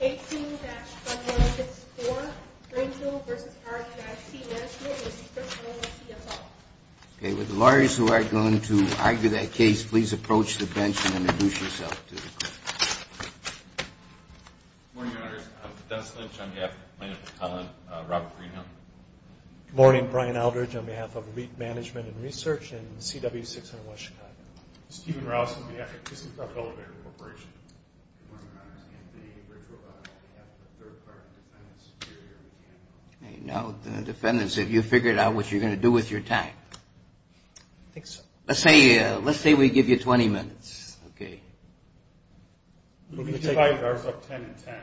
18-1454 Grangeville v. RIT Management v. Frickville, CSL Morning, Your Honors. I'm Dennis Lynch on behalf of the Plano Public Highland. Robert Greenhill. Good morning. Brian Aldridge on behalf of REIT Management & Research and CW601 Chicago. Stephen Rouse on behalf of Kissing Crop Elevator Corporation. Good morning, Your Honors. I'm Anthony Richrovot on behalf of the Third Party Defendant's Superior Encampment. We're going to take our guards up 10 and 10,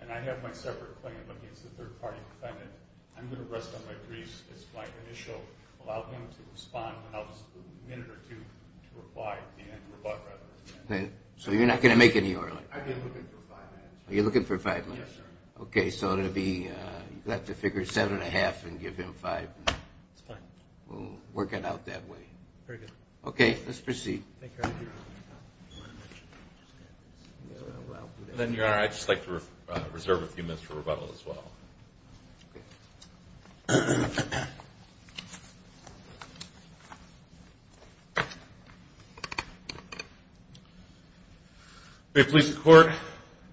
and I have my separate claim against the Third Party Defendant. I'm going to rest on my briefs as my initial, allow him to respond when I was a minute or two to reply, and rebut rather. I've been looking for five minutes. Yes, sir. It's fine. Very good. Thank you, Your Honor. And then, Your Honor, I'd just like to reserve a few minutes for rebuttal as well. We have police in court.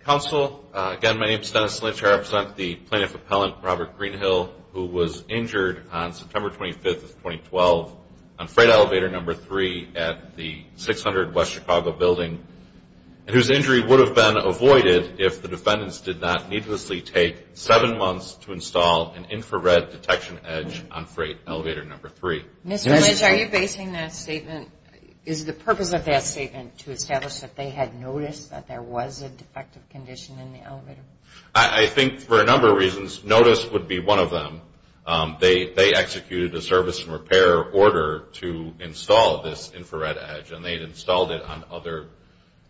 Counsel, again, my name is Dennis Lynch. I represent the plaintiff appellant, Robert Greenhill, who was injured on September 25th of 2012 on Freight Elevator Number 3 at the 600 West Chicago Building, and whose injury would have been avoided if the defendants did not needlessly take seven months to install an infrared detection edge on Freight Elevator Number 3. Mr. Lynch, are you basing that statement? Is the purpose of that statement to establish that they had noticed that there was a defective condition in the elevator? I think for a number of reasons. Notice would be one of them. They executed a service and repair order to install this infrared edge, and they'd installed it on other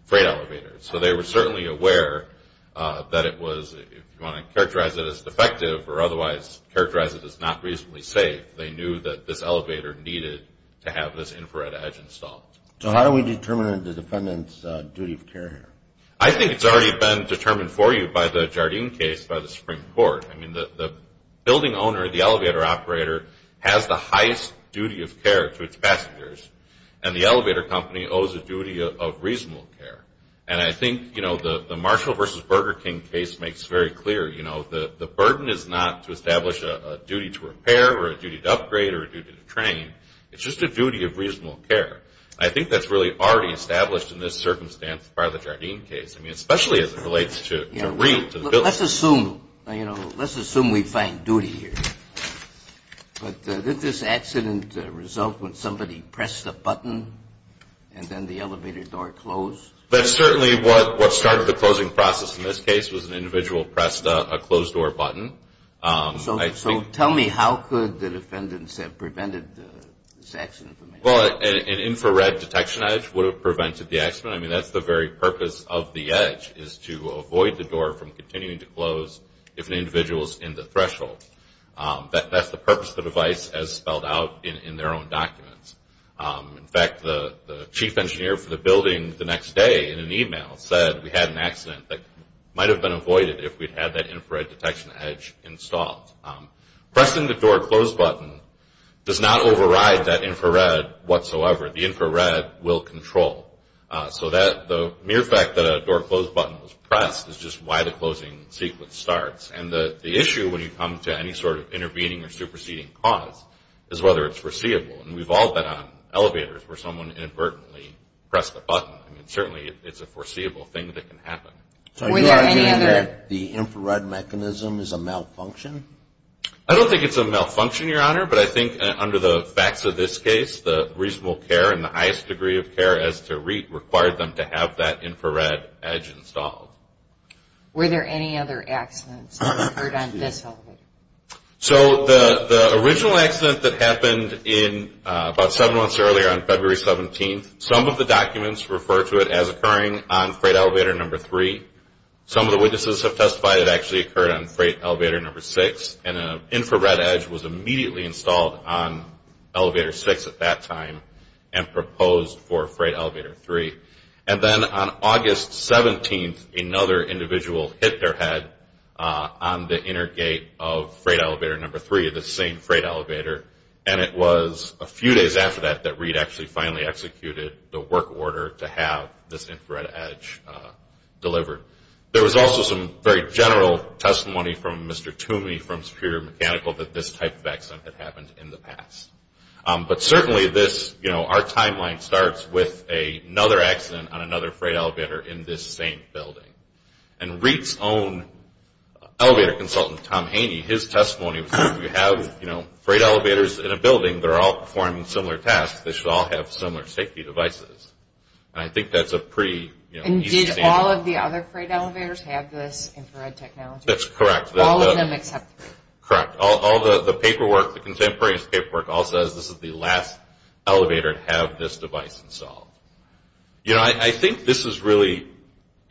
freight elevators. So they were certainly aware that it was, if you want to characterize it as defective or otherwise characterize it as not reasonably safe, they knew that this elevator needed to have this infrared edge installed. So how do we determine the defendant's duty of care here? I think it's already been determined for you by the Jardine case by the Supreme Court. I mean, the building owner, the elevator operator, has the highest duty of care to its passengers, and the elevator company owes a duty of reasonable care. And I think, you know, the Marshall v. Burger King case makes very clear, you know, the burden is not to establish a duty to repair or a duty to upgrade or a duty to train. It's just a duty of reasonable care. I think that's really already established in this circumstance by the Jardine case. I mean, especially as it relates to Reed, to the building. Let's assume, you know, let's assume we find duty here. But did this accident result when somebody pressed a button and then the elevator door closed? That's certainly what started the closing process in this case was an individual pressed a closed-door button. So tell me, how could the defendants have prevented this accident from happening? Well, an infrared detection edge would have prevented the accident. I mean, that's the very purpose of the edge is to avoid the door from continuing to close if an individual is in the threshold. That's the purpose of the device as spelled out in their own documents. In fact, the chief engineer for the building the next day in an e-mail said we had an accident that might have been avoided if we'd had that infrared detection edge installed. Pressing the door closed button does not override that infrared whatsoever. The infrared will control. So the mere fact that a door closed button was pressed is just why the closing sequence starts. And the issue when you come to any sort of intervening or superseding cause is whether it's foreseeable. And we've all been on elevators where someone inadvertently pressed a button. I mean, certainly it's a foreseeable thing that can happen. So are you arguing that the infrared mechanism is a malfunction? I don't think it's a malfunction, Your Honor, but I think under the facts of this case, the reasonable care and the highest degree of care as to require them to have that infrared edge installed. Were there any other accidents that occurred on this elevator? So the original accident that happened about seven months earlier on February 17th, some of the documents refer to it as occurring on freight elevator number three. Some of the witnesses have testified it actually occurred on freight elevator number six, and an infrared edge was immediately installed on elevator six at that time and proposed for freight elevator three. And then on August 17th, another individual hit their head on the inner gate of freight elevator number three, the same freight elevator, and it was a few days after that that Reed actually finally executed the work order to have this infrared edge delivered. There was also some very general testimony from Mr. Toomey from Superior Mechanical that this type of accident had happened in the past. But certainly this, you know, our timeline starts with another accident on another freight elevator in this same building. And Reed's own elevator consultant, Tom Haney, his testimony was that if you have freight elevators in a building, they're all performing similar tasks, they should all have similar safety devices. And I think that's a pretty easy statement. And did all of the other freight elevators have this infrared technology? That's correct. All of them except three? Correct. All the paperwork, the contemporaneous paperwork all says this is the last elevator to have this device installed. You know, I think this is really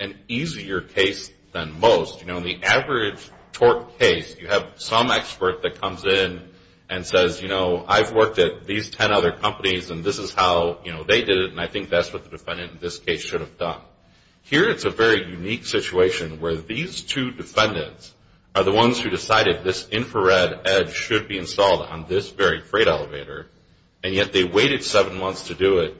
an easier case than most. You know, in the average torque case, you have some expert that comes in and says, you know, I've worked at these 10 other companies and this is how, you know, they did it, and I think that's what the defendant in this case should have done. Here it's a very unique situation where these two defendants are the ones who decided this infrared edge should be installed on this very freight elevator, and yet they waited seven months to do it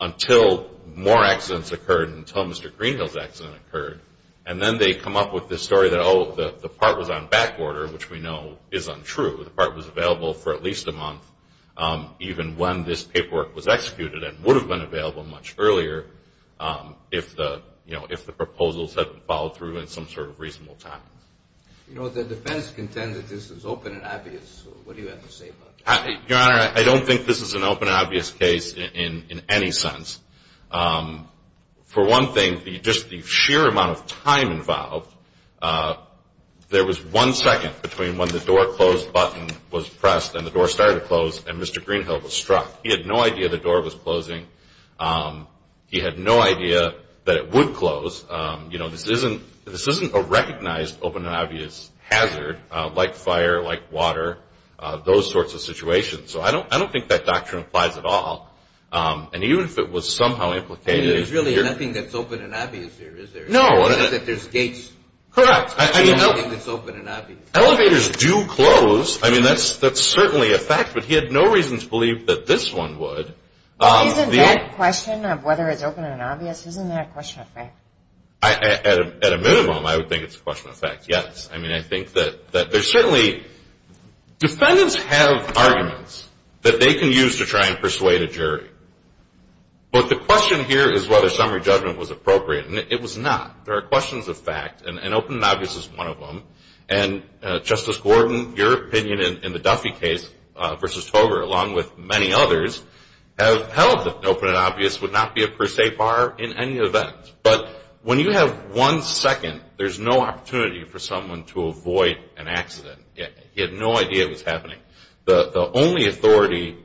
until more accidents occurred, until Mr. Greenhill's accident occurred. And then they come up with this story that, oh, the part was on back order, which we know is untrue. The part was available for at least a month, even when this paperwork was executed and would have been available much earlier if the proposals had followed through in some sort of reasonable time. You know, the defense contends that this is open and obvious. What do you have to say about that? Your Honor, I don't think this is an open and obvious case in any sense. For one thing, just the sheer amount of time involved, there was one second between when the door close button was pressed and the door started to close and Mr. Greenhill was struck. He had no idea the door was closing. He had no idea that it would close. You know, this isn't a recognized open and obvious hazard like fire, like water, those sorts of situations. So I don't think that doctrine applies at all. And even if it was somehow implicated. I mean, there's really nothing that's open and obvious here, is there? No. It's just that there's gates. Correct. I mean, elevators do close. I mean, that's certainly a fact, but he had no reason to believe that this one would. Isn't that question of whether it's open and obvious, isn't that a question of fact? At a minimum, I would think it's a question of fact, yes. I mean, I think that there's certainly, defendants have arguments that they can use to try and persuade a jury. But the question here is whether summary judgment was appropriate, and it was not. There are questions of fact, and open and obvious is one of them. And, Justice Gordon, your opinion in the Duffy case versus Togar, along with many others, have held that open and obvious would not be a per se bar in any event. But when you have one second, there's no opportunity for someone to avoid an accident. He had no idea it was happening. The only authority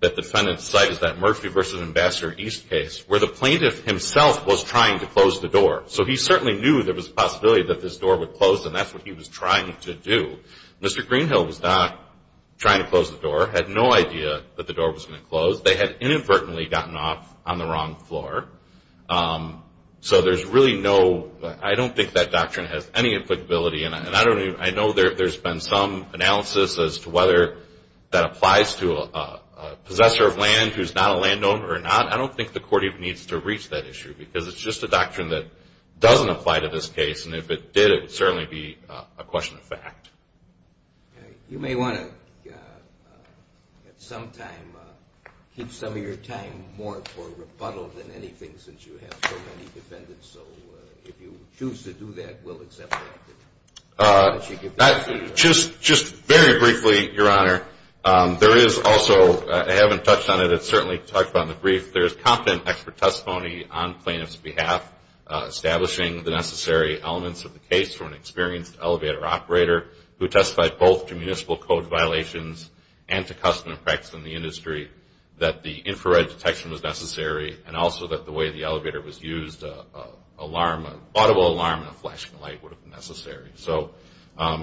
that defendants cite is that Murphy v. Ambassador East case, where the plaintiff himself was trying to close the door. So he certainly knew there was a possibility that this door would close, and that's what he was trying to do. Mr. Greenhill was not trying to close the door, had no idea that the door was going to close. They had inadvertently gotten off on the wrong floor. So there's really no, I don't think that doctrine has any applicability, and I know there's been some analysis as to whether that applies to a possessor of land who's not a landowner or not. I don't think the court even needs to reach that issue because it's just a doctrine that doesn't apply to this case, and if it did, it would certainly be a question of fact. You may want to at some time keep some of your time more for rebuttal than anything since you have so many defendants. So if you choose to do that, we'll accept that. Just very briefly, Your Honor, there is also, I haven't touched on it. But certainly talked about in the brief, there is competent expert testimony on plaintiff's behalf, establishing the necessary elements of the case for an experienced elevator operator who testified both to municipal code violations and to custom and practice in the industry that the infrared detection was necessary and also that the way the elevator was used, an audible alarm and a flashing light would have been necessary. So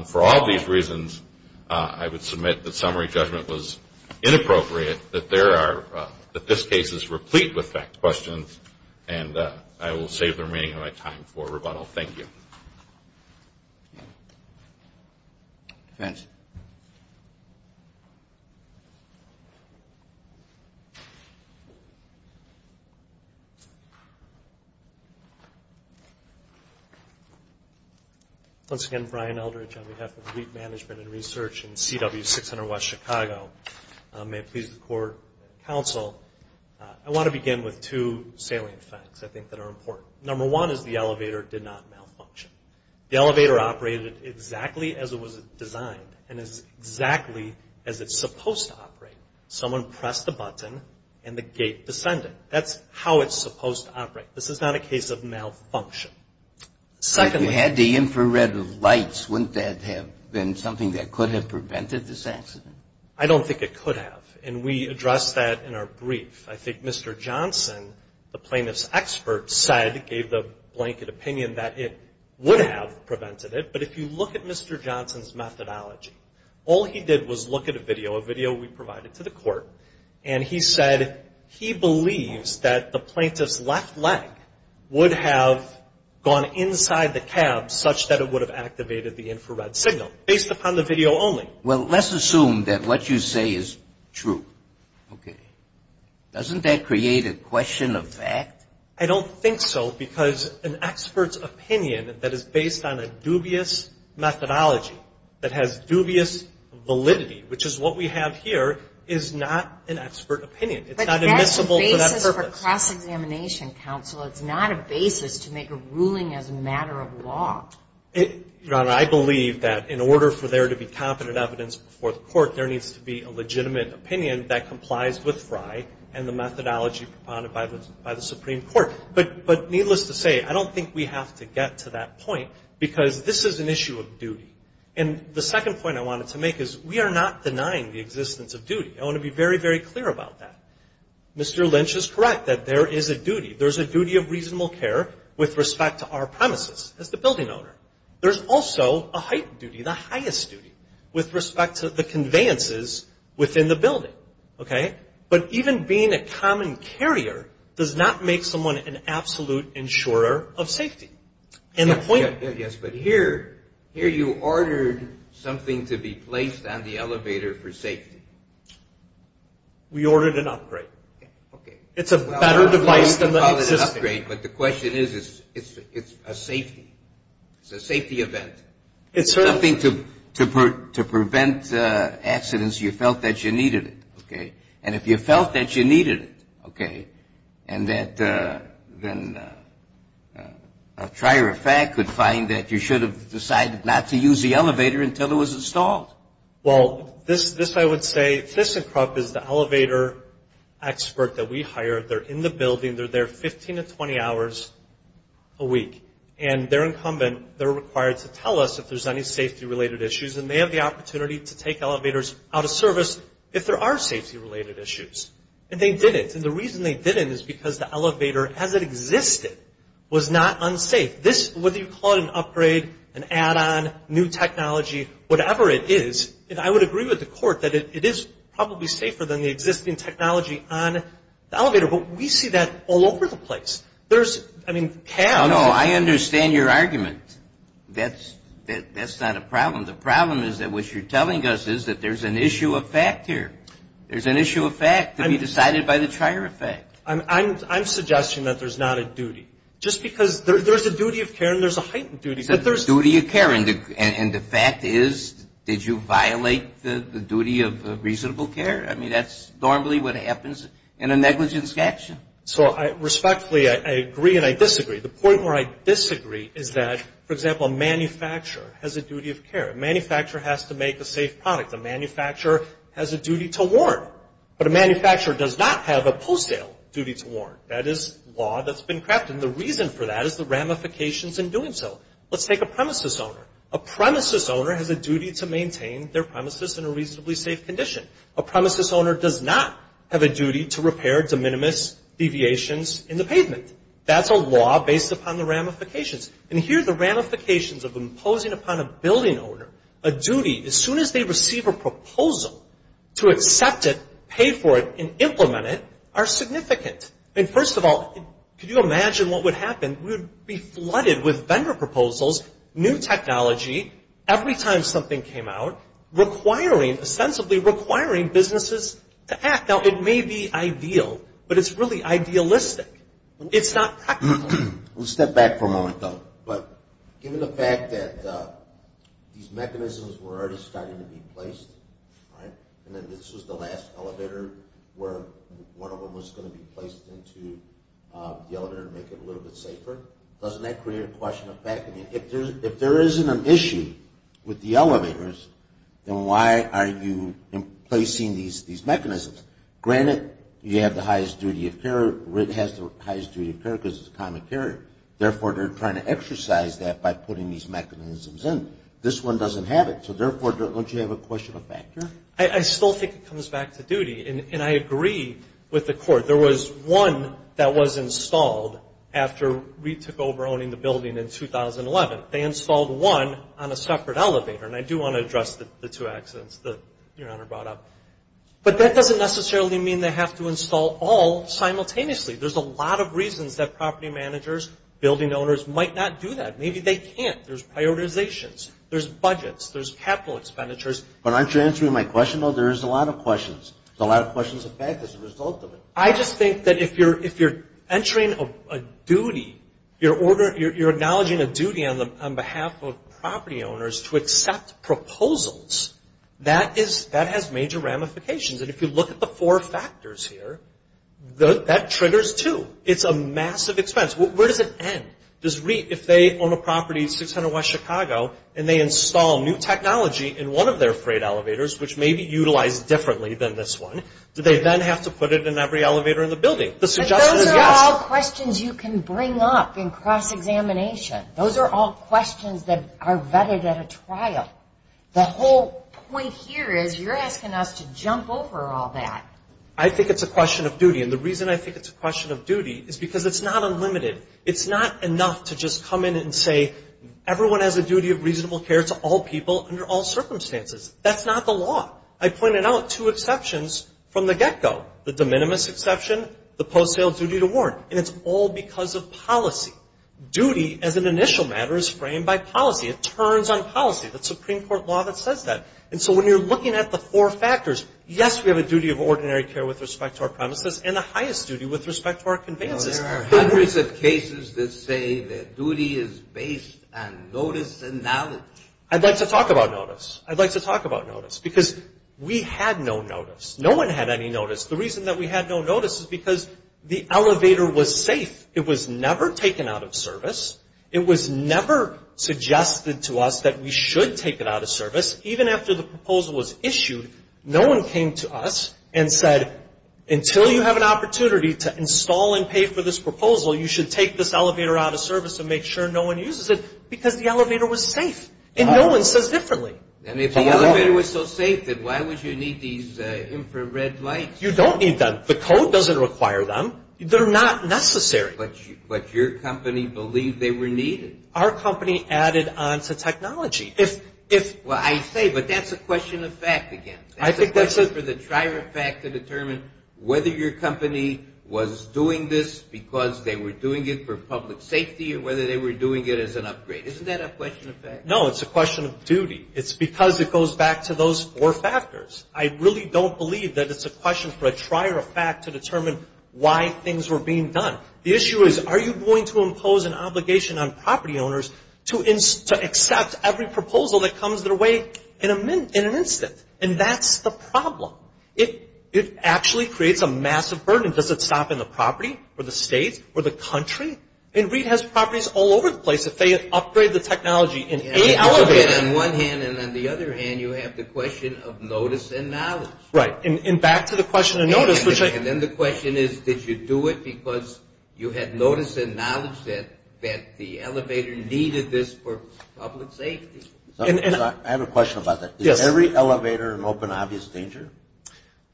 for all these reasons, I would submit that summary judgment was inappropriate, that this case is replete with fact questions, and I will save the remaining of my time for rebuttal. Thank you. Defense. Once again, Brian Eldridge on behalf of Lead Management and Research in CW600 West Chicago. May it please the Court and Counsel, I want to begin with two salient facts I think that are important. Number one is the elevator did not malfunction. The elevator operated exactly as it was designed and as exactly as it's supposed to operate. Someone pressed the button and the gate descended. That's how it's supposed to operate. This is not a case of malfunction. You had the infrared lights. Wouldn't that have been something that could have prevented this accident? I don't think it could have, and we addressed that in our brief. I think Mr. Johnson, the plaintiff's expert, gave the blanket opinion that it would have prevented it. But if you look at Mr. Johnson's methodology, all he did was look at a video, a video we provided to the court, and he said he believes that the plaintiff's left leg would have gone inside the cab such that it would have activated the infrared signal based upon the video only. Well, let's assume that what you say is true. Okay. Doesn't that create a question of fact? I don't think so because an expert's opinion that is based on a dubious methodology, that has dubious validity, which is what we have here, is not an expert opinion. It's not admissible for that purpose. But that's the basis of a cross-examination, counsel. It's not a basis to make a ruling as a matter of law. Your Honor, I believe that in order for there to be competent evidence before the court, there needs to be a legitimate opinion that complies with Fry and the methodology propounded by the Supreme Court. But needless to say, I don't think we have to get to that point because this is an issue of duty. And the second point I wanted to make is we are not denying the existence of duty. I want to be very, very clear about that. Mr. Lynch is correct that there is a duty. There's a duty of reasonable care with respect to our premises as the building owner. There's also a heightened duty, the highest duty, with respect to the conveyances within the building. Okay? But even being a common carrier does not make someone an absolute insurer of safety. Yes, but here you ordered something to be placed on the elevator for safety. We ordered an upgrade. Okay. It's a better device than the existing. But the question is, it's a safety. It's a safety event. It's something to prevent accidents you felt that you needed. Okay? And if you felt that you needed it, okay, and that then a trier of fact could find that you should have decided not to use the elevator until it was installed. Well, this I would say, ThyssenKrupp is the elevator expert that we hired. They're in the building. They're there 15 to 20 hours a week. And they're incumbent. They're required to tell us if there's any safety-related issues. And they have the opportunity to take elevators out of service if there are safety-related issues. And they did it. And the reason they did it is because the elevator as it existed was not unsafe. Whether you call it an upgrade, an add-on, new technology, whatever it is, I would agree with the court that it is probably safer than the existing technology on the elevator. But we see that all over the place. There's, I mean, cabs. No, no, I understand your argument. That's not a problem. The problem is that what you're telling us is that there's an issue of fact here. There's an issue of fact to be decided by the trier of fact. I'm suggesting that there's not a duty. Just because there's a duty of care and there's a heightened duty. And the fact is, did you violate the duty of reasonable care? I mean, that's normally what happens in a negligence action. So respectfully, I agree and I disagree. The point where I disagree is that, for example, a manufacturer has a duty of care. A manufacturer has to make a safe product. A manufacturer has a duty to warrant. But a manufacturer does not have a post-sale duty to warrant. That is law that's been crafted. And the reason for that is the ramifications in doing so. Let's take a premises owner. A premises owner has a duty to maintain their premises in a reasonably safe condition. A premises owner does not have a duty to repair de minimis deviations in the pavement. That's a law based upon the ramifications. And here the ramifications of imposing upon a building owner a duty, as soon as they receive a proposal, to accept it, pay for it, and implement it are significant. And first of all, could you imagine what would happen? We would be flooded with vendor proposals, new technology, every time something came out, requiring, ostensibly requiring businesses to act. Now, it may be ideal, but it's really idealistic. It's not practical. We'll step back for a moment, though. But given the fact that these mechanisms were already starting to be placed, and then this was the last elevator where one of them was going to be placed into the elevator to make it a little bit safer, doesn't that create a question of fact? I mean, if there isn't an issue with the elevators, then why are you placing these mechanisms? Granted, you have the highest duty of care. RIT has the highest duty of care because it's a common carrier. Therefore, they're trying to exercise that by putting these mechanisms in. This one doesn't have it. So, therefore, don't you have a question of fact here? I still think it comes back to duty. And I agree with the Court. There was one that was installed after RIT took over owning the building in 2011. They installed one on a separate elevator. And I do want to address the two accidents that Your Honor brought up. But that doesn't necessarily mean they have to install all simultaneously. There's a lot of reasons that property managers, building owners might not do that. Maybe they can't. There's prioritizations. There's budgets. There's capital expenditures. But aren't you answering my question, though? There is a lot of questions. There's a lot of questions of fact as a result of it. I just think that if you're entering a duty, you're acknowledging a duty on behalf of property owners to accept proposals, that has major ramifications. And if you look at the four factors here, that triggers, too. It's a massive expense. Where does it end? Does RIT, if they own a property in 600 West Chicago, and they install new technology in one of their freight elevators, which may be utilized differently than this one, do they then have to put it in every elevator in the building? But those are all questions you can bring up in cross-examination. Those are all questions that are vetted at a trial. The whole point here is you're asking us to jump over all that. I think it's a question of duty. And the reason I think it's a question of duty is because it's not unlimited. It's not enough to just come in and say, everyone has a duty of reasonable care to all people under all circumstances. That's not the law. I pointed out two exceptions from the get-go. The de minimis exception, the post-sale duty to warrant. And it's all because of policy. Duty as an initial matter is framed by policy. It turns on policy. That's Supreme Court law that says that. And so when you're looking at the four factors, yes, we have a duty of ordinary care with respect to our premises, and the highest duty with respect to our conveyances. There are hundreds of cases that say that duty is based on notice and knowledge. I'd like to talk about notice. Because we had no notice. No one had any notice. The reason that we had no notice is because the elevator was safe. It was never taken out of service. It was never suggested to us that we should take it out of service. Even after the proposal was issued, no one came to us and said until you have an opportunity to install and pay for this proposal, you should take this elevator out of service and make sure no one uses it because the elevator was safe. And no one says differently. And if the elevator was so safe, then why would you need these infrared lights? You don't need them. The code doesn't require them. They're not necessary. But your company believed they were needed. Our company added on to technology. Well, I say, but that's a question of fact again. That's a question for the trier of fact to determine whether your company was doing this because they were doing it for public safety or whether they were doing it as an upgrade. Isn't that a question of fact? No, it's a question of duty. It's because it goes back to those four factors. I really don't believe that it's a question for a trier of fact to determine why things were being done. The issue is are you going to impose an obligation on property owners to accept every proposal that comes their way in an instant? And that's the problem. It actually creates a massive burden. Does it stop in the property or the state or the country? And REIT has properties all over the place. If they upgrade the technology in any elevator. On one hand and on the other hand, you have the question of notice and knowledge. Right, and back to the question of notice. And then the question is did you do it because you had notice and knowledge that the elevator needed this for public safety? I have a question about that. Yes. Is every elevator an open, obvious danger?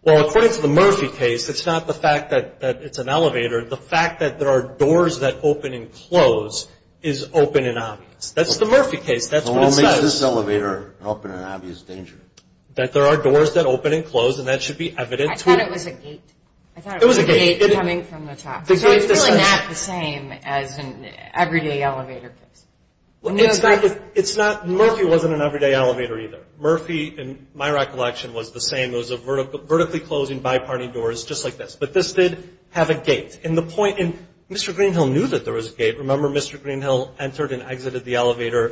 Well, according to the Murphy case, it's not the fact that it's an elevator. The fact that there are doors that open and close is open and obvious. That's the Murphy case. That's what it says. So what makes this elevator an open and obvious danger? That there are doors that open and close, and that should be evident to you. I thought it was a gate. It was a gate. I thought it was a gate coming from the top. So it's really not the same as an everyday elevator case. It's not. Murphy wasn't an everyday elevator either. Murphy, in my recollection, was the same. It was a vertically closing, bi-party doors just like this. But this did have a gate. And Mr. Greenhill knew that there was a gate. Remember, Mr. Greenhill entered and exited the elevator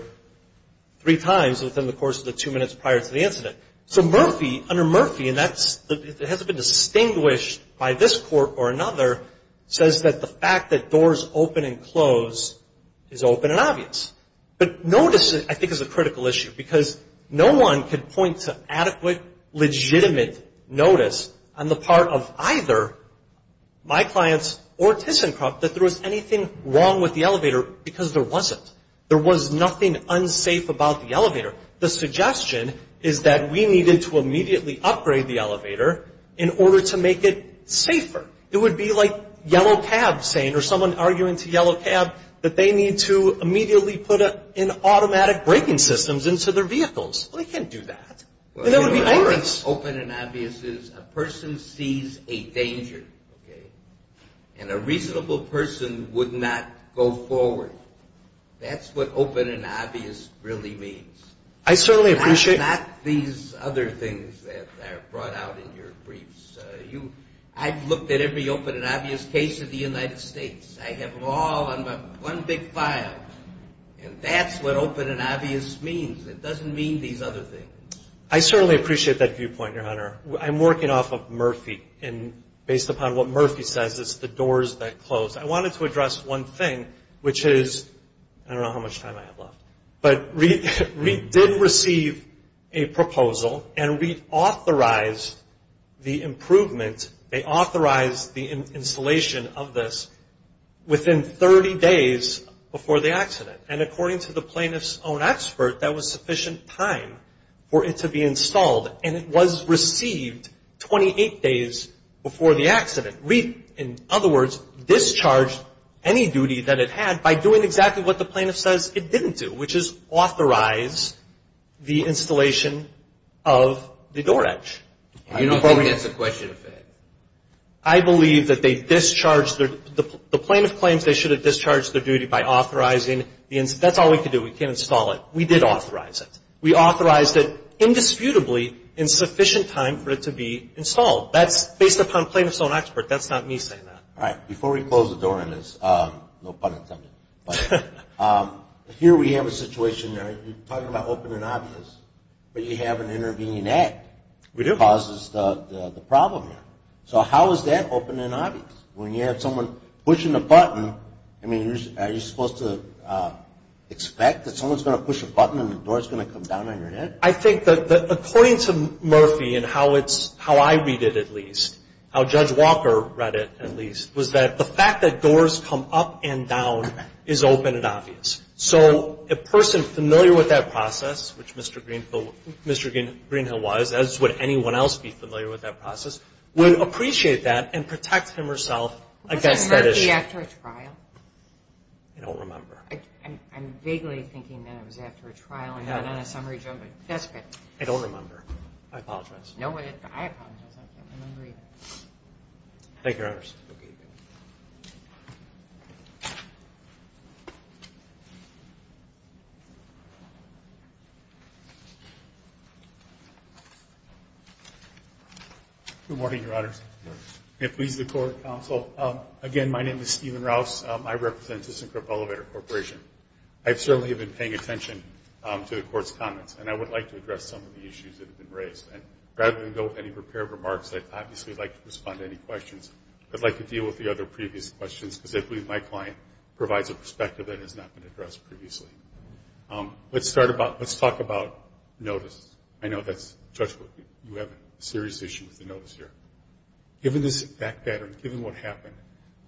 three times within the course of the two minutes prior to the incident. So Murphy, under Murphy, and that hasn't been distinguished by this court or another, says that the fact that doors open and close is open and obvious. But notice, I think, is a critical issue because no one can point to adequate, legitimate notice on the part of either my clients or ThyssenKrupp that there was anything wrong with the elevator because there wasn't. There was nothing unsafe about the elevator. The suggestion is that we needed to immediately upgrade the elevator in order to make it safer. It would be like Yellow Cab saying or someone arguing to Yellow Cab that they need to immediately put in automatic braking systems into their vehicles. Well, they can't do that. There would be anger. What I think is open and obvious is a person sees a danger, okay, and a reasonable person would not go forward. That's what open and obvious really means. I certainly appreciate that. Not these other things that are brought out in your briefs. I've looked at every open and obvious case of the United States. I have them all on one big file. And that's what open and obvious means. It doesn't mean these other things. I certainly appreciate that viewpoint, Your Honor. I'm working off of Murphy and based upon what Murphy says, it's the doors that close. I wanted to address one thing, which is, I don't know how much time I have left, but we did receive a proposal and we authorized the improvement, they authorized the installation of this within 30 days before the accident. And according to the plaintiff's own expert, that was sufficient time for it to be installed. And it was received 28 days before the accident. In other words, discharged any duty that it had by doing exactly what the plaintiff says it didn't do, which is authorize the installation of the door edge. I believe that they discharged their – the plaintiff claims they should have discharged their duty by authorizing the – that's all we could do. We can't install it. We did authorize it. We authorized it indisputably in sufficient time for it to be installed. That's based upon plaintiff's own expert. That's not me saying that. All right. Before we close the door on this, no pun intended, but here we have a situation, you're talking about open and obvious, but you have an intervening act. We do. Causes the problem here. So how is that open and obvious? When you have someone pushing a button, I mean, are you supposed to expect that someone's going to push a button and the door's going to come down on your head? I think that according to Murphy and how I read it at least, how Judge Walker read it at least, was that the fact that doors come up and down is open and obvious. So a person familiar with that process, which Mr. Greenhill was, as would anyone else be familiar with that process, would appreciate that and protect himself against that issue. Wasn't Murphy after a trial? I don't remember. I'm vaguely thinking that it was after a trial and not on a summary judgment. That's good. I don't remember. I apologize. I don't remember either. Thank you, Your Honors. Okay. Good morning, Your Honors. Good morning. And please, the Court of Counsel, again, my name is Stephen Rouse. I represent District Elevator Corporation. I certainly have been paying attention to the Court's comments, and I would like to address some of the issues that have been raised. And rather than go with any prepared remarks, I'd obviously like to respond to any questions. I'd like to deal with the other previous questions, because I believe my client provides a perspective that has not been addressed previously. Let's talk about notice. I know that, Judge, you have a serious issue with the notice here. Given this fact pattern, given what happened,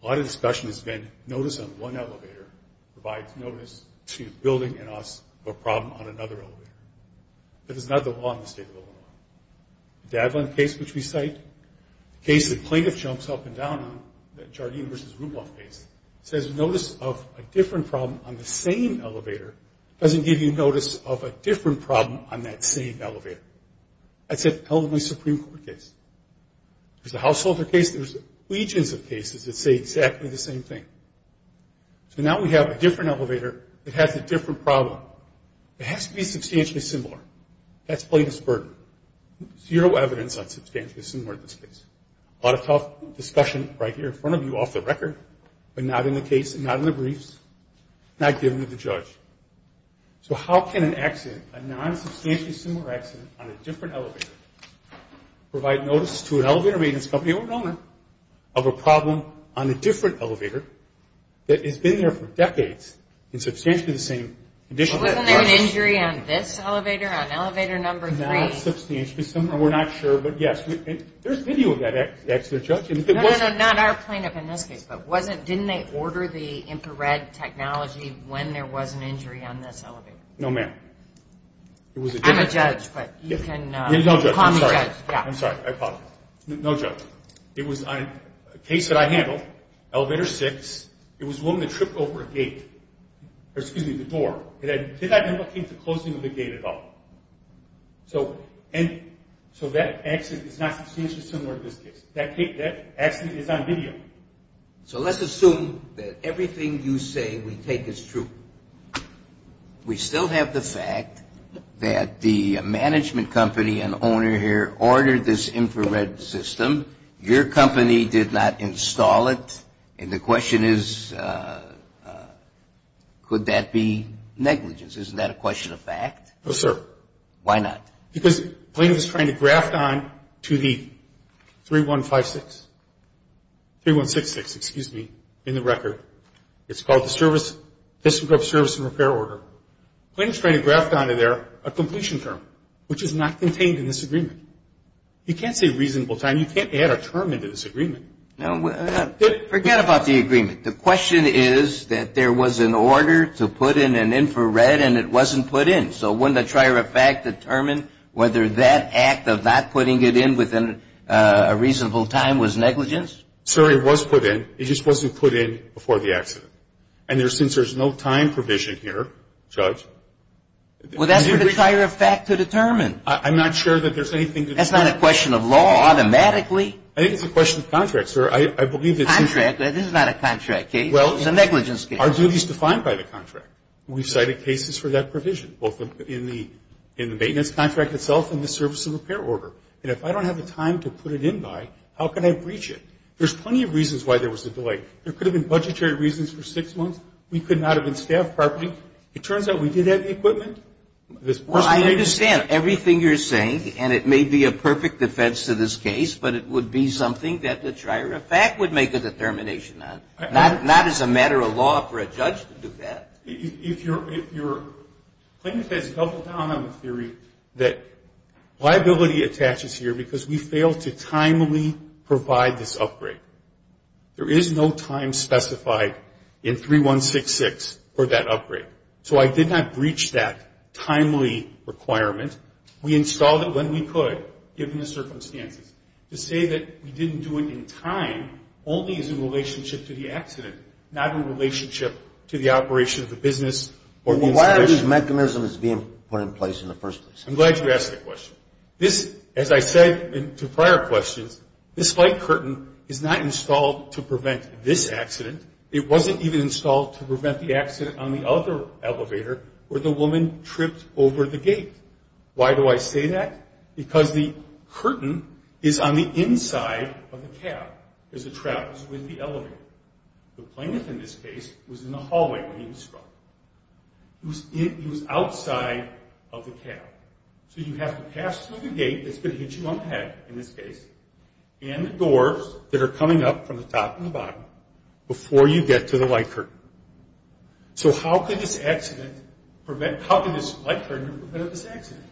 a lot of discussion has been notice on one elevator provides notice to a building and asks for a problem on another elevator. That is not the law in the state of Illinois. The Dadland case, which we cite, the case that plaintiff jumps up and down on, that Jardine v. Ruboff case, says notice of a different problem on the same elevator doesn't give you notice of a different problem on that same elevator. That's an Illinois Supreme Court case. There's a householder case. There's legions of cases that say exactly the same thing. So now we have a different elevator that has a different problem. It has to be substantially similar. That's plaintiff's burden. Zero evidence on substantially similar in this case. A lot of tough discussion right here in front of you off the record, but not in the case and not in the briefs, not given to the judge. So how can an accident, a non-substantially similar accident on a different elevator, provide notice to an elevator maintenance company or owner of a problem on a different elevator that has been there for decades in substantially the same condition? Wasn't there an injury on this elevator, on elevator number three? Not substantially similar. We're not sure, but yes. There's video of that accident, Judge. No, no, no. Not our plaintiff in this case, but didn't they order the infrared technology when there was an injury on this elevator? No, ma'am. I'm a judge, but you can call me judge. I'm sorry. I apologize. No, Judge. It was a case that I handled, elevator six. It was a woman that tripped over a gate, or excuse me, the door. And I did not know what came to closing of the gate at all. So that accident is not substantially similar to this case. That accident is on video. So let's assume that everything you say we take as true. We still have the fact that the management company and owner here ordered this infrared system. Your company did not install it. And the question is, could that be negligence? Isn't that a question of fact? No, sir. Why not? Because the plaintiff is trying to graft onto the 3156, 3166, excuse me, in the record. It's called the District of Service and Repair Order. The plaintiff is trying to graft onto there a completion term, which is not contained in this agreement. You can't say reasonable time. You can't add a term into this agreement. Forget about the agreement. The question is that there was an order to put in an infrared, and it wasn't put in. So wouldn't a trier of fact determine whether that act of not putting it in within a reasonable time was negligence? Sir, it was put in. It just wasn't put in before the accident. And since there's no time provision here, Judge, Well, that's for the trier of fact to determine. I'm not sure that there's anything to determine. That's not a question of law automatically. I think it's a question of contract, sir. I believe it's Contract? This is not a contract case. Well, it's a negligence case. Our duty is defined by the contract. We've cited cases for that provision, both in the maintenance contract itself and the service and repair order. And if I don't have the time to put it in by, how can I breach it? There's plenty of reasons why there was a delay. There could have been budgetary reasons for six months. We could not have been staffed properly. It turns out we did have the equipment. Well, I understand everything you're saying, and it may be a perfect defense to this case, but it would be something that the trier of fact would make a determination on, not as a matter of law for a judge to do that. If your claimant has doubled down on the theory that liability attaches here because we failed to timely provide this upgrade, there is no time specified in 3166 for that upgrade. So I did not breach that timely requirement. We installed it when we could, given the circumstances. To say that we didn't do it in time only is in relationship to the accident, not in relationship to the operation of the business or the institution. Well, why are these mechanisms being put in place in the first place? I'm glad you asked that question. This, as I said to prior questions, this light curtain is not installed to prevent this accident. It wasn't even installed to prevent the accident on the other elevator where the woman tripped over the gate. Why do I say that? Because the curtain is on the inside of the cab as it travels with the elevator. The claimant in this case was in the hallway when he was struck. He was outside of the cab. So you have to pass through the gate that's going to hit you on the head in this case and the doors that are coming up from the top and the bottom before you get to the light curtain. So how could this light curtain have prevented this accident?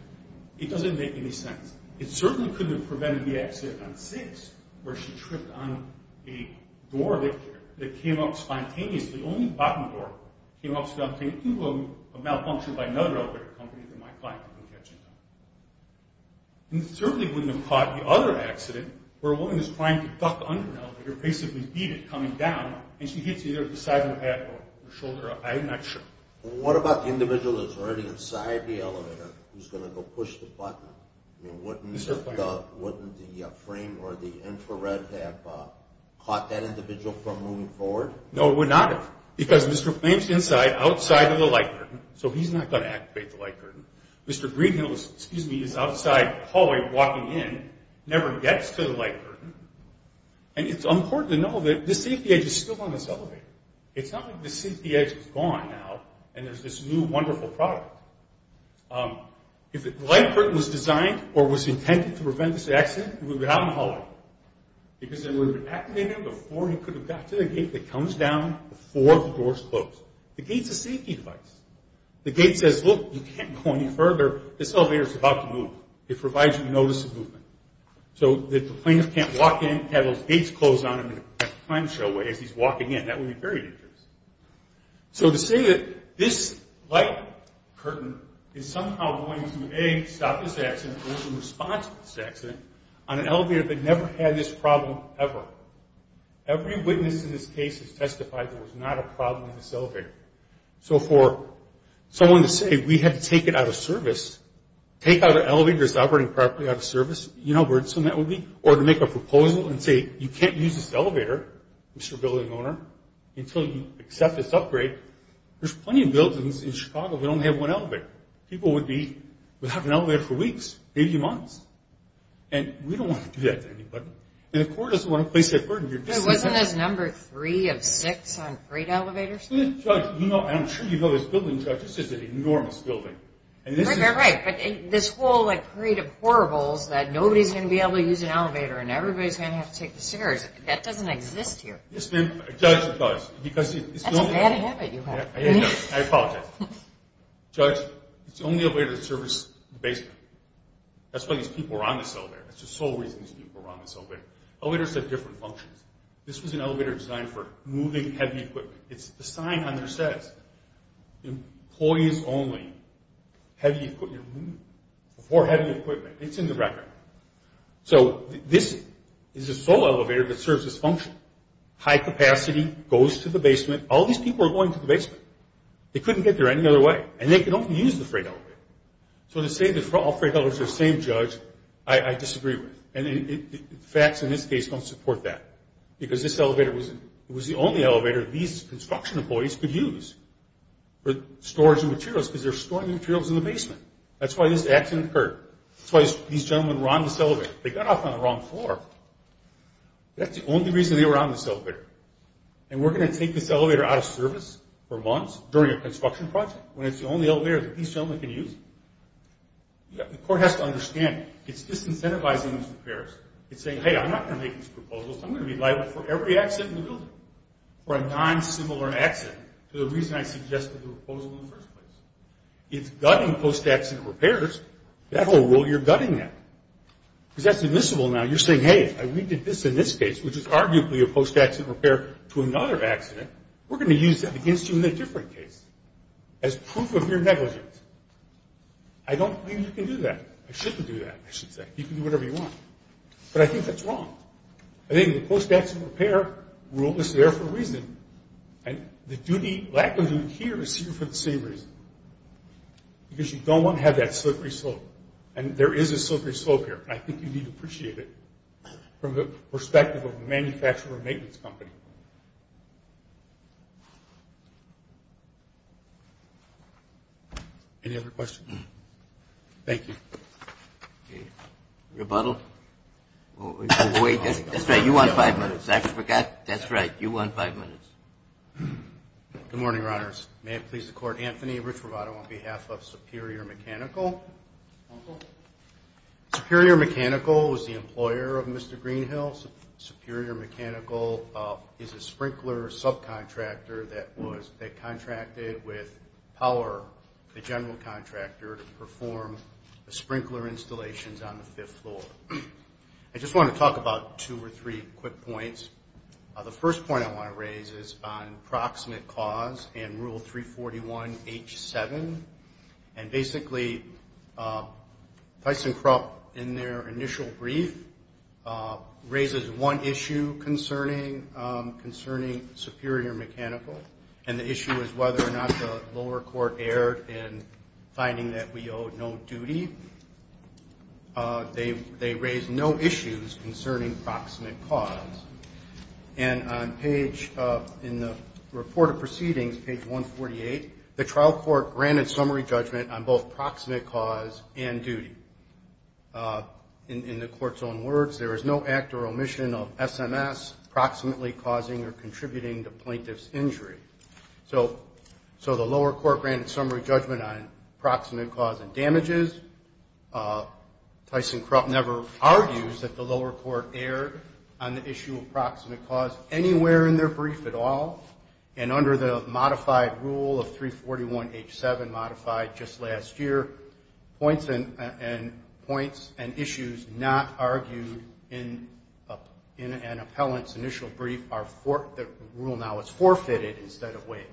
It doesn't make any sense. It certainly couldn't have prevented the accident on 6 where she tripped on a door that came up spontaneously. The only bottom door came up spontaneously. If you were malfunctioned by another elevator company, then my client would have been catching up. It certainly wouldn't have caught the other accident where a woman is trying to duck under an elevator, basically beat it coming down, and she hits either the side of her head or her shoulder. I'm not sure. What about the individual that's already inside the elevator who's going to go push the button? Wouldn't the frame or the infrared have caught that individual from moving forward? No, it would not have because Mr. Flames is inside outside of the light curtain, so he's not going to activate the light curtain. Mr. Greenhill is outside the hallway walking in, never gets to the light curtain, and it's important to know that the safety edge is still on this elevator. It's not like the safety edge is gone now and there's this new wonderful product. If the light curtain was designed or was intended to prevent this accident, it would have been out in the hallway because it would have been activated before he could have got to the gate that comes down before the doors close. The gate's a safety device. The gate says, look, you can't go any further. This elevator's about to move. It provides you notice of movement. So if the plaintiff can't walk in, have those gates closed on him in a time show way as he's walking in, that would be very dangerous. So to say that this light curtain is somehow going to, A, stop this accident or is in response to this accident on an elevator that never had this problem ever. So for someone to say we had to take it out of service, take out an elevator that's operating properly out of service, you know how burdensome that would be? Or to make a proposal and say you can't use this elevator, Mr. Building Owner, until you accept this upgrade. There's plenty of buildings in Chicago that only have one elevator. People would be without an elevator for weeks, maybe months. And we don't want to do that to anybody. And the court doesn't want to place that burden. Wasn't this number three of six on freight elevators? Judge, I'm sure you know this building, Judge. This is an enormous building. You're right. But this whole parade of horribles that nobody's going to be able to use an elevator and everybody's going to have to take the stairs, that doesn't exist here. Yes, ma'am. Judge, it does. That's a bad habit you have. I apologize. Judge, it's the only elevator that serves the basement. That's why these people are on this elevator. That's the sole reason these people are on this elevator. Elevators have different functions. This was an elevator designed for moving heavy equipment. It's a sign on there that says, employees only, heavy equipment removed. Before heavy equipment. It's in the record. So this is the sole elevator that serves this function. High capacity, goes to the basement. All these people are going to the basement. They couldn't get there any other way. And they can only use the freight elevator. So to say that all freight elevators are the same, Judge, I disagree with. And facts in this case don't support that. Because this elevator was the only elevator these construction employees could use for storage of materials because they're storing materials in the basement. That's why this accident occurred. That's why these gentlemen were on this elevator. They got off on the wrong floor. That's the only reason they were on this elevator. And we're going to take this elevator out of service for months during a construction project The court has to understand. It's disincentivizing these repairs. It's saying, hey, I'm not going to make these proposals. I'm going to be liable for every accident in the building. For a non-similar accident. For the reason I suggested the proposal in the first place. It's gutting post-accident repairs. That whole rule, you're gutting that. Because that's admissible now. You're saying, hey, if we did this in this case, which is arguably a post-accident repair to another accident, we're going to use that against you in a different case. As proof of your negligence. I don't believe you can do that. I shouldn't do that, I should say. You can do whatever you want. But I think that's wrong. I think the post-accident repair rule is there for a reason. And the lack of duty here is for the same reason. Because you don't want to have that slippery slope. And there is a slippery slope here. And I think you need to appreciate it. From the perspective of a manufacturer maintenance company. Any other questions? Thank you. Rebuttal? That's right, you won five minutes. I forgot. That's right, you won five minutes. Good morning, Your Honors. May it please the Court. Anthony Richrovato on behalf of Superior Mechanical. Superior Mechanical was the employer of Mr. Greenhill. Superior Mechanical is a sprinkler subcontractor that contracted with Power, the general contractor, to perform the sprinkler installations on the fifth floor. I just want to talk about two or three quick points. The first point I want to raise is on proximate cause and Rule 341H7. And basically, ThyssenKrupp, in their initial brief, raises one issue concerning Superior Mechanical. And the issue is whether or not the lower court erred in finding that we owe no duty. They raised no issues concerning proximate cause. And in the report of proceedings, page 148, the trial court granted summary judgment on both proximate cause and duty. In the Court's own words, there is no act or omission of SMS proximately causing or contributing to plaintiff's injury. So the lower court granted summary judgment on proximate cause and damages. ThyssenKrupp never argues that the lower court erred on the issue of proximate cause anywhere in their brief at all. And under the modified Rule of 341H7, modified just last year, points and issues not argued in an appellant's initial brief, the rule now is forfeited instead of waived.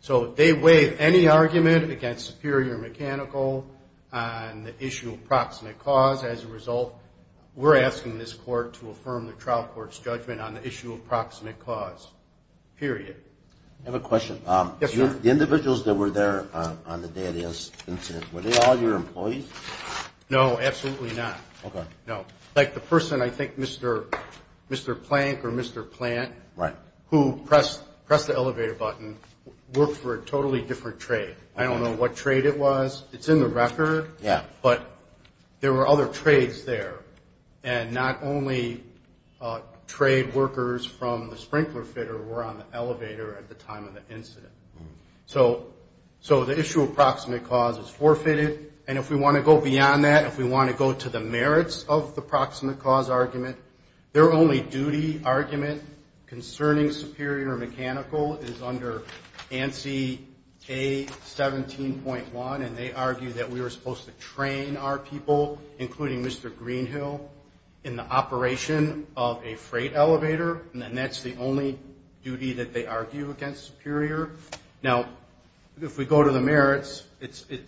So they waive any argument against Superior Mechanical on the issue of proximate cause. As a result, we're asking this court to affirm the trial court's judgment on the issue of proximate cause, period. I have a question. Yes, sir. The individuals that were there on the day of the incident, were they all your employees? No, absolutely not. Okay. No. Like the person, I think Mr. Plank or Mr. Plant, who pressed the elevator button, worked for a totally different trade. I don't know what trade it was. It's in the record. Yeah. But there were other trades there. And not only trade workers from the sprinkler fitter were on the elevator at the time of the incident. So the issue of proximate cause is forfeited. And if we want to go beyond that, if we want to go to the merits of the proximate cause argument, their only duty argument concerning Superior Mechanical is under ANSI A17.1, and they argue that we were supposed to train our people, including Mr. Greenhill, in the operation of a freight elevator. And that's the only duty that they argue against Superior. Now, if we go to the merits,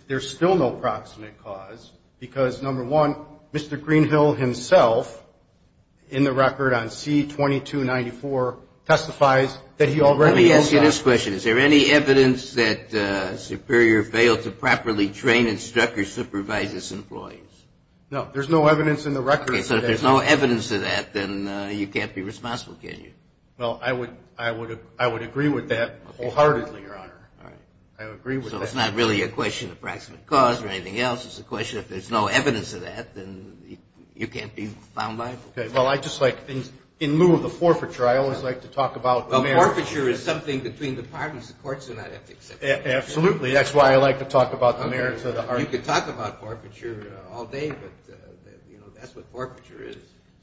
there's still no proximate cause because, number one, Mr. Greenhill himself, in the record on C2294, testifies that he already owns the house. Let me ask you this question. Is there any evidence that Superior failed to properly train, instruct, or supervise its employees? No. There's no evidence in the record. Okay. So if there's no evidence of that, then you can't be responsible, can you? Well, I would agree with that wholeheartedly, Your Honor. All right. I would agree with that. So it's not really a question of proximate cause or anything else. It's a question if there's no evidence of that, then you can't be found liable. Okay. Well, I just like things. In lieu of the forfeiture, I always like to talk about the merits. Forfeiture is something between departments. The courts do not have to accept it. Absolutely. That's why I like to talk about the merits. You could talk about forfeiture all day, but, you know, that's what forfeiture is.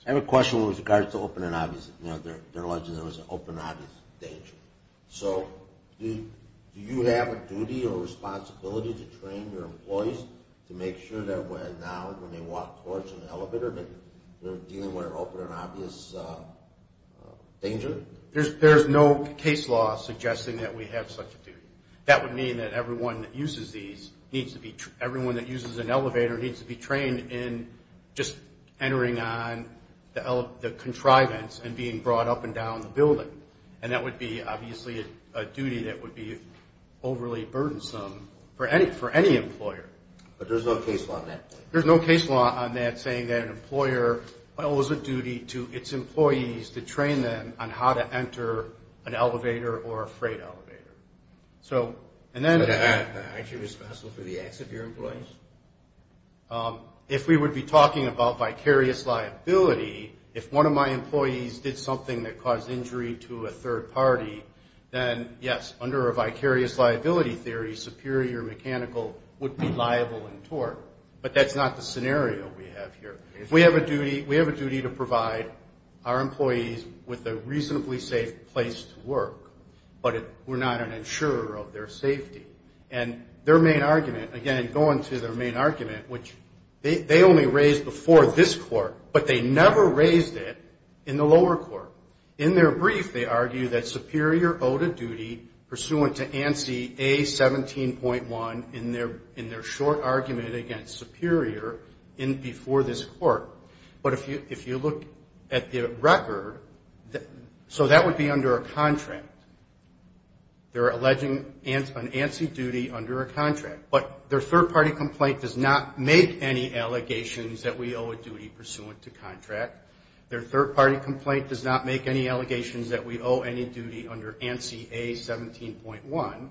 I have a question with regards to open and obvious. You know, they're alleging there was an open and obvious danger. So do you have a duty or responsibility to train your employees to make sure that now, when they walk towards an elevator, that they're dealing with an open and obvious danger? There's no case law suggesting that we have such a duty. That would mean that everyone that uses an elevator needs to be trained in just entering on the contrivance and being brought up and down the building. And that would be, obviously, a duty that would be overly burdensome for any employer. But there's no case law on that? There's no case law on that saying that an employer owes a duty to its employees to train them on how to enter an elevator or a freight elevator. So, and then… Is that actually responsible for the acts of your employees? If we would be talking about vicarious liability, if one of my employees did something that caused injury to a third party, then, yes, under a vicarious liability theory, superior mechanical would be liable in tort. But that's not the scenario we have here. We have a duty to provide our employees with a reasonably safe place to work, but we're not an insurer of their safety. And their main argument, again, going to their main argument, which they only raised before this court, but they never raised it in the lower court. In their brief, they argue that superior owed a duty pursuant to ANSI A17.1 in their short argument against superior before this court. But if you look at the record, so that would be under a contract. They're alleging an ANSI duty under a contract. But their third party complaint does not make any allegations that we owe a duty pursuant to contract. Their third party complaint does not make any allegations that we owe any duty under ANSI A17.1.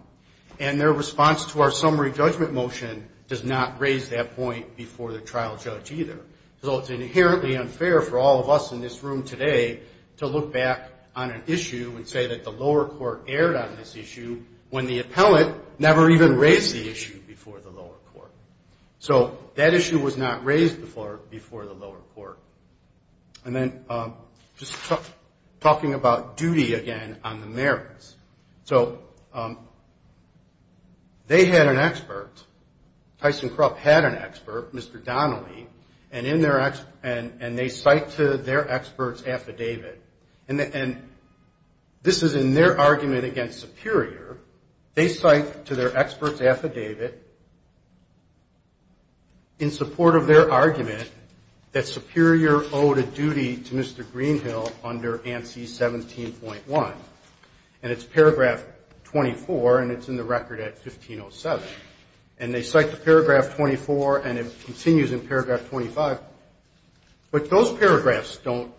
And their response to our summary judgment motion does not raise that point before the trial judge either. So it's inherently unfair for all of us in this room today to look back on an issue and say that the lower court erred on this issue when the appellant never even raised the issue before the lower court. So that issue was not raised before the lower court. And then just talking about duty again on the merits. So they had an expert. Tyson Krupp had an expert, Mr. Donnelly. And they cite to their expert's affidavit. And this is in their argument against superior. They cite to their expert's affidavit in support of their argument that superior owed a duty to Mr. Greenhill under ANSI 17.1. And it's paragraph 24, and it's in the record at 1507. And they cite the paragraph 24, and it continues in paragraph 25. But those paragraphs don't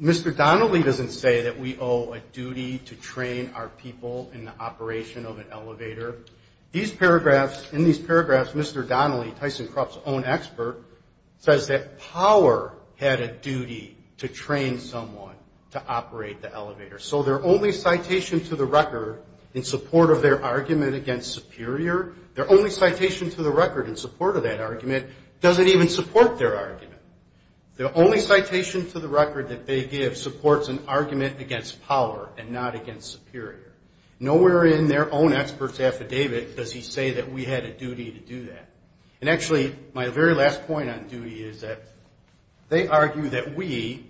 Mr. Donnelly doesn't say that we owe a duty to train our people in the operation of an elevator. These paragraphs, in these paragraphs, Mr. Donnelly, Tyson Krupp's own expert, says that power had a duty to train someone to operate the elevator. So their only citation to the record in support of their argument against superior, their only citation to the record in support of that argument doesn't even support their argument. The only citation to the record that they give supports an argument against power and not against superior. Nowhere in their own expert's affidavit does he say that we had a duty to do that. And actually, my very last point on duty is that they argue that we,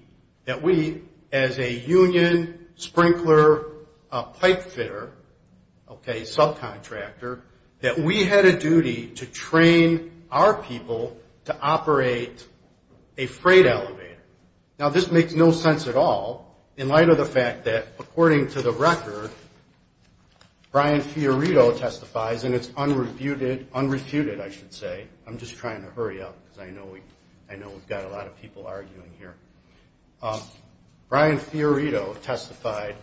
as a union sprinkler pipe fitter, okay, subcontractor, that we had a duty to train our people to operate a freight elevator. Now, this makes no sense at all in light of the fact that, according to the record, Brian Fiorito testifies, and it's unrefuted, I should say. I'm just trying to hurry up because I know we've got a lot of people arguing here. Brian Fiorito testified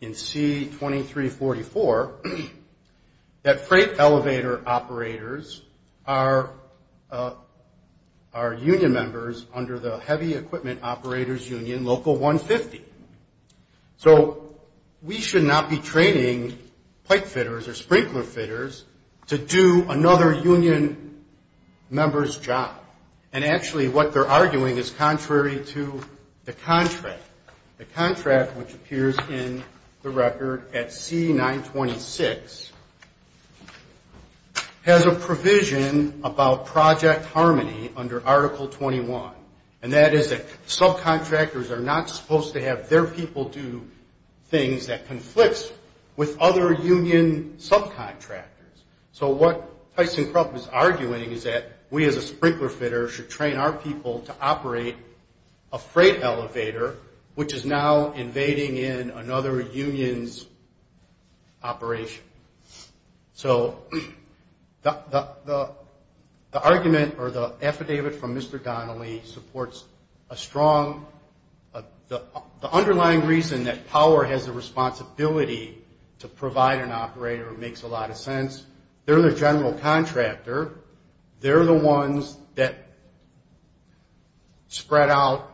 in C-2344 that freight elevator operators are union members under the Heavy Equipment Operators Union Local 150. So we should not be training pipe fitters or sprinkler fitters to do another union member's job. And actually, what they're arguing is contrary to the contract. The contract, which appears in the record at C-926, has a provision about project harmony under Article 21, and that is that subcontractors are not supposed to have their people do things that conflict with other union subcontractors. So what Tyson Krupp is arguing is that we as a sprinkler fitter should train our people to operate a freight elevator, which is now invading in another union's operation. So the argument or the affidavit from Mr. Donnelly supports a strong – the responsibility to provide an operator makes a lot of sense. They're the general contractor. They're the ones that spread out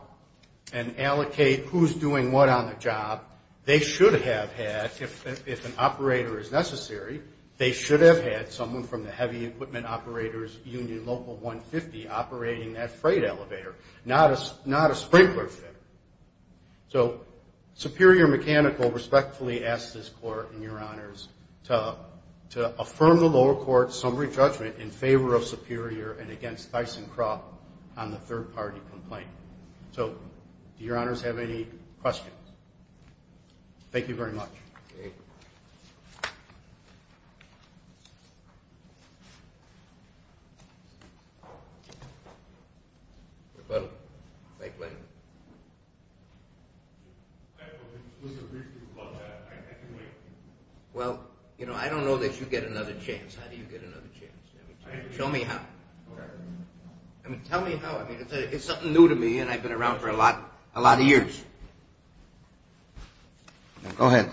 and allocate who's doing what on the job. They should have had, if an operator is necessary, they should have had someone from the Heavy Equipment Operators Union Local 150 operating that freight elevator, not a sprinkler fitter. So Superior Mechanical respectfully asks this Court, and Your Honors, to affirm the lower court's summary judgment in favor of Superior and against Tyson Krupp on the third-party complaint. So do Your Honors have any questions? Thank you very much. Okay. Hello? Mike Lennon. Well, you know, I don't know that you get another chance. How do you get another chance? Show me how. I mean, tell me how. I mean, it's something new to me, and I've been around for a lot of years. Go ahead.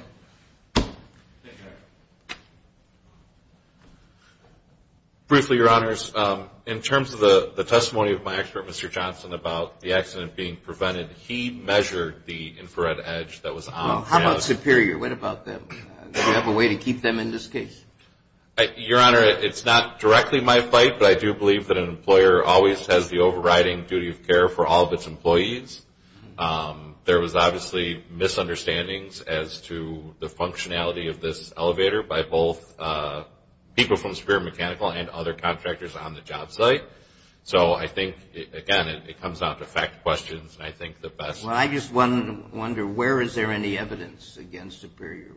Briefly, Your Honors, in terms of the testimony of my expert, Mr. Johnson, about the accident being prevented, he measured the infrared edge that was on the van. Well, how about Superior? What about them? Do you have a way to keep them in this case? Your Honor, it's not directly my fight, but I do believe that an employer always has the overriding duty of care for all of its employees. There was obviously misunderstandings as to the functionality of this elevator by both people from Superior Mechanical and other contractors on the job site. So I think, again, it comes down to fact questions, and I think the best. Well, I just wonder, where is there any evidence against Superior?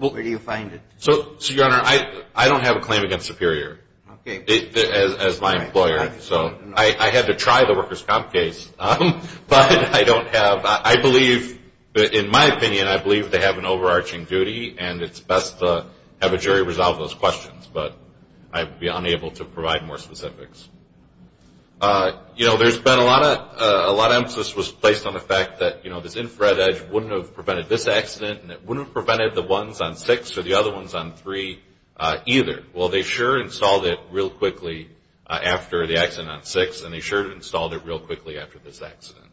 Where do you find it? So, Your Honor, I don't have a claim against Superior as my employer. I had to try the workers' comp case, but I don't have, I believe, in my opinion, I believe they have an overarching duty, and it's best to have a jury resolve those questions, but I'd be unable to provide more specifics. You know, there's been a lot of emphasis was placed on the fact that, you know, this infrared edge wouldn't have prevented this accident, and it wouldn't have prevented the ones on six or the other ones on three either. Well, they sure installed it real quickly after the accident on six, and they sure installed it real quickly after this accident.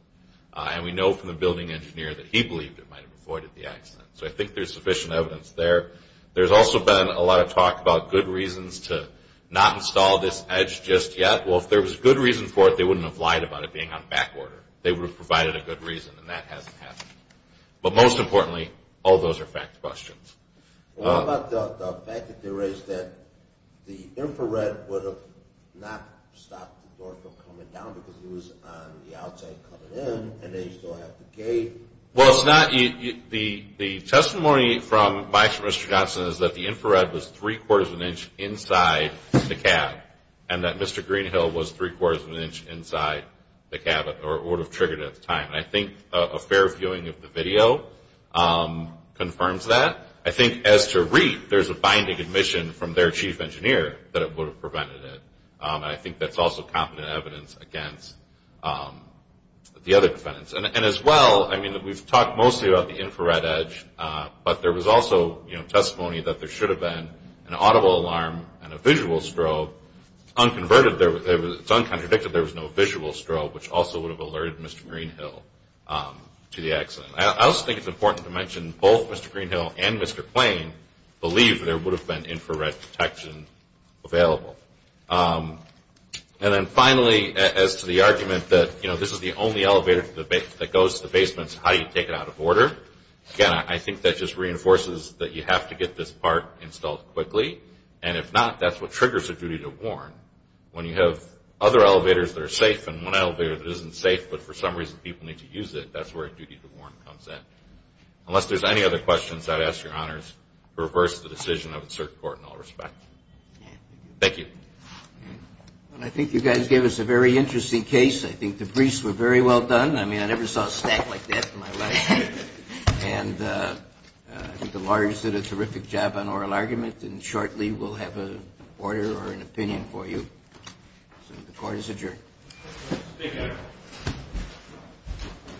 And we know from the building engineer that he believed it might have avoided the accident. So I think there's sufficient evidence there. There's also been a lot of talk about good reasons to not install this edge just yet. Well, if there was a good reason for it, they wouldn't have lied about it being on back order. They would have provided a good reason, and that hasn't happened. But most importantly, all those are fact questions. What about the fact that they raised that the infrared would have not stopped the door from coming down because it was on the outside coming in, and they still have the gate? Well, it's not – the testimony from Vice Mr. Johnson is that the infrared was three-quarters of an inch inside the cab, and that Mr. Greenhill was three-quarters of an inch inside the cab, or it would have triggered at the time. And I think a fair viewing of the video confirms that. I think as to REIT, there's a binding admission from their chief engineer that it would have prevented it. And I think that's also competent evidence against the other defendants. And as well, I mean, we've talked mostly about the infrared edge, but there was also testimony that there should have been an audible alarm and a visual strobe. It's unconverted – it's uncontradicted there was no visual strobe, which also would have alerted Mr. Greenhill to the accident. I also think it's important to mention both Mr. Greenhill and Mr. Plain believe there would have been infrared detection available. And then finally, as to the argument that, you know, this is the only elevator that goes to the basements, how do you take it out of order? Again, I think that just reinforces that you have to get this part installed quickly, and if not, that's what triggers a duty to warn. When you have other elevators that are safe and one elevator that isn't safe, but for some reason people need to use it, that's where a duty to warn comes in. Unless there's any other questions, I'd ask your honors to reverse the decision of the circuit court in all respect. Thank you. Well, I think you guys gave us a very interesting case. I think the briefs were very well done. I mean, I never saw a stack like that in my life. And I think the lawyers did a terrific job on oral argument, and shortly we'll have an order or an opinion for you. So the court is adjourned. Thank you.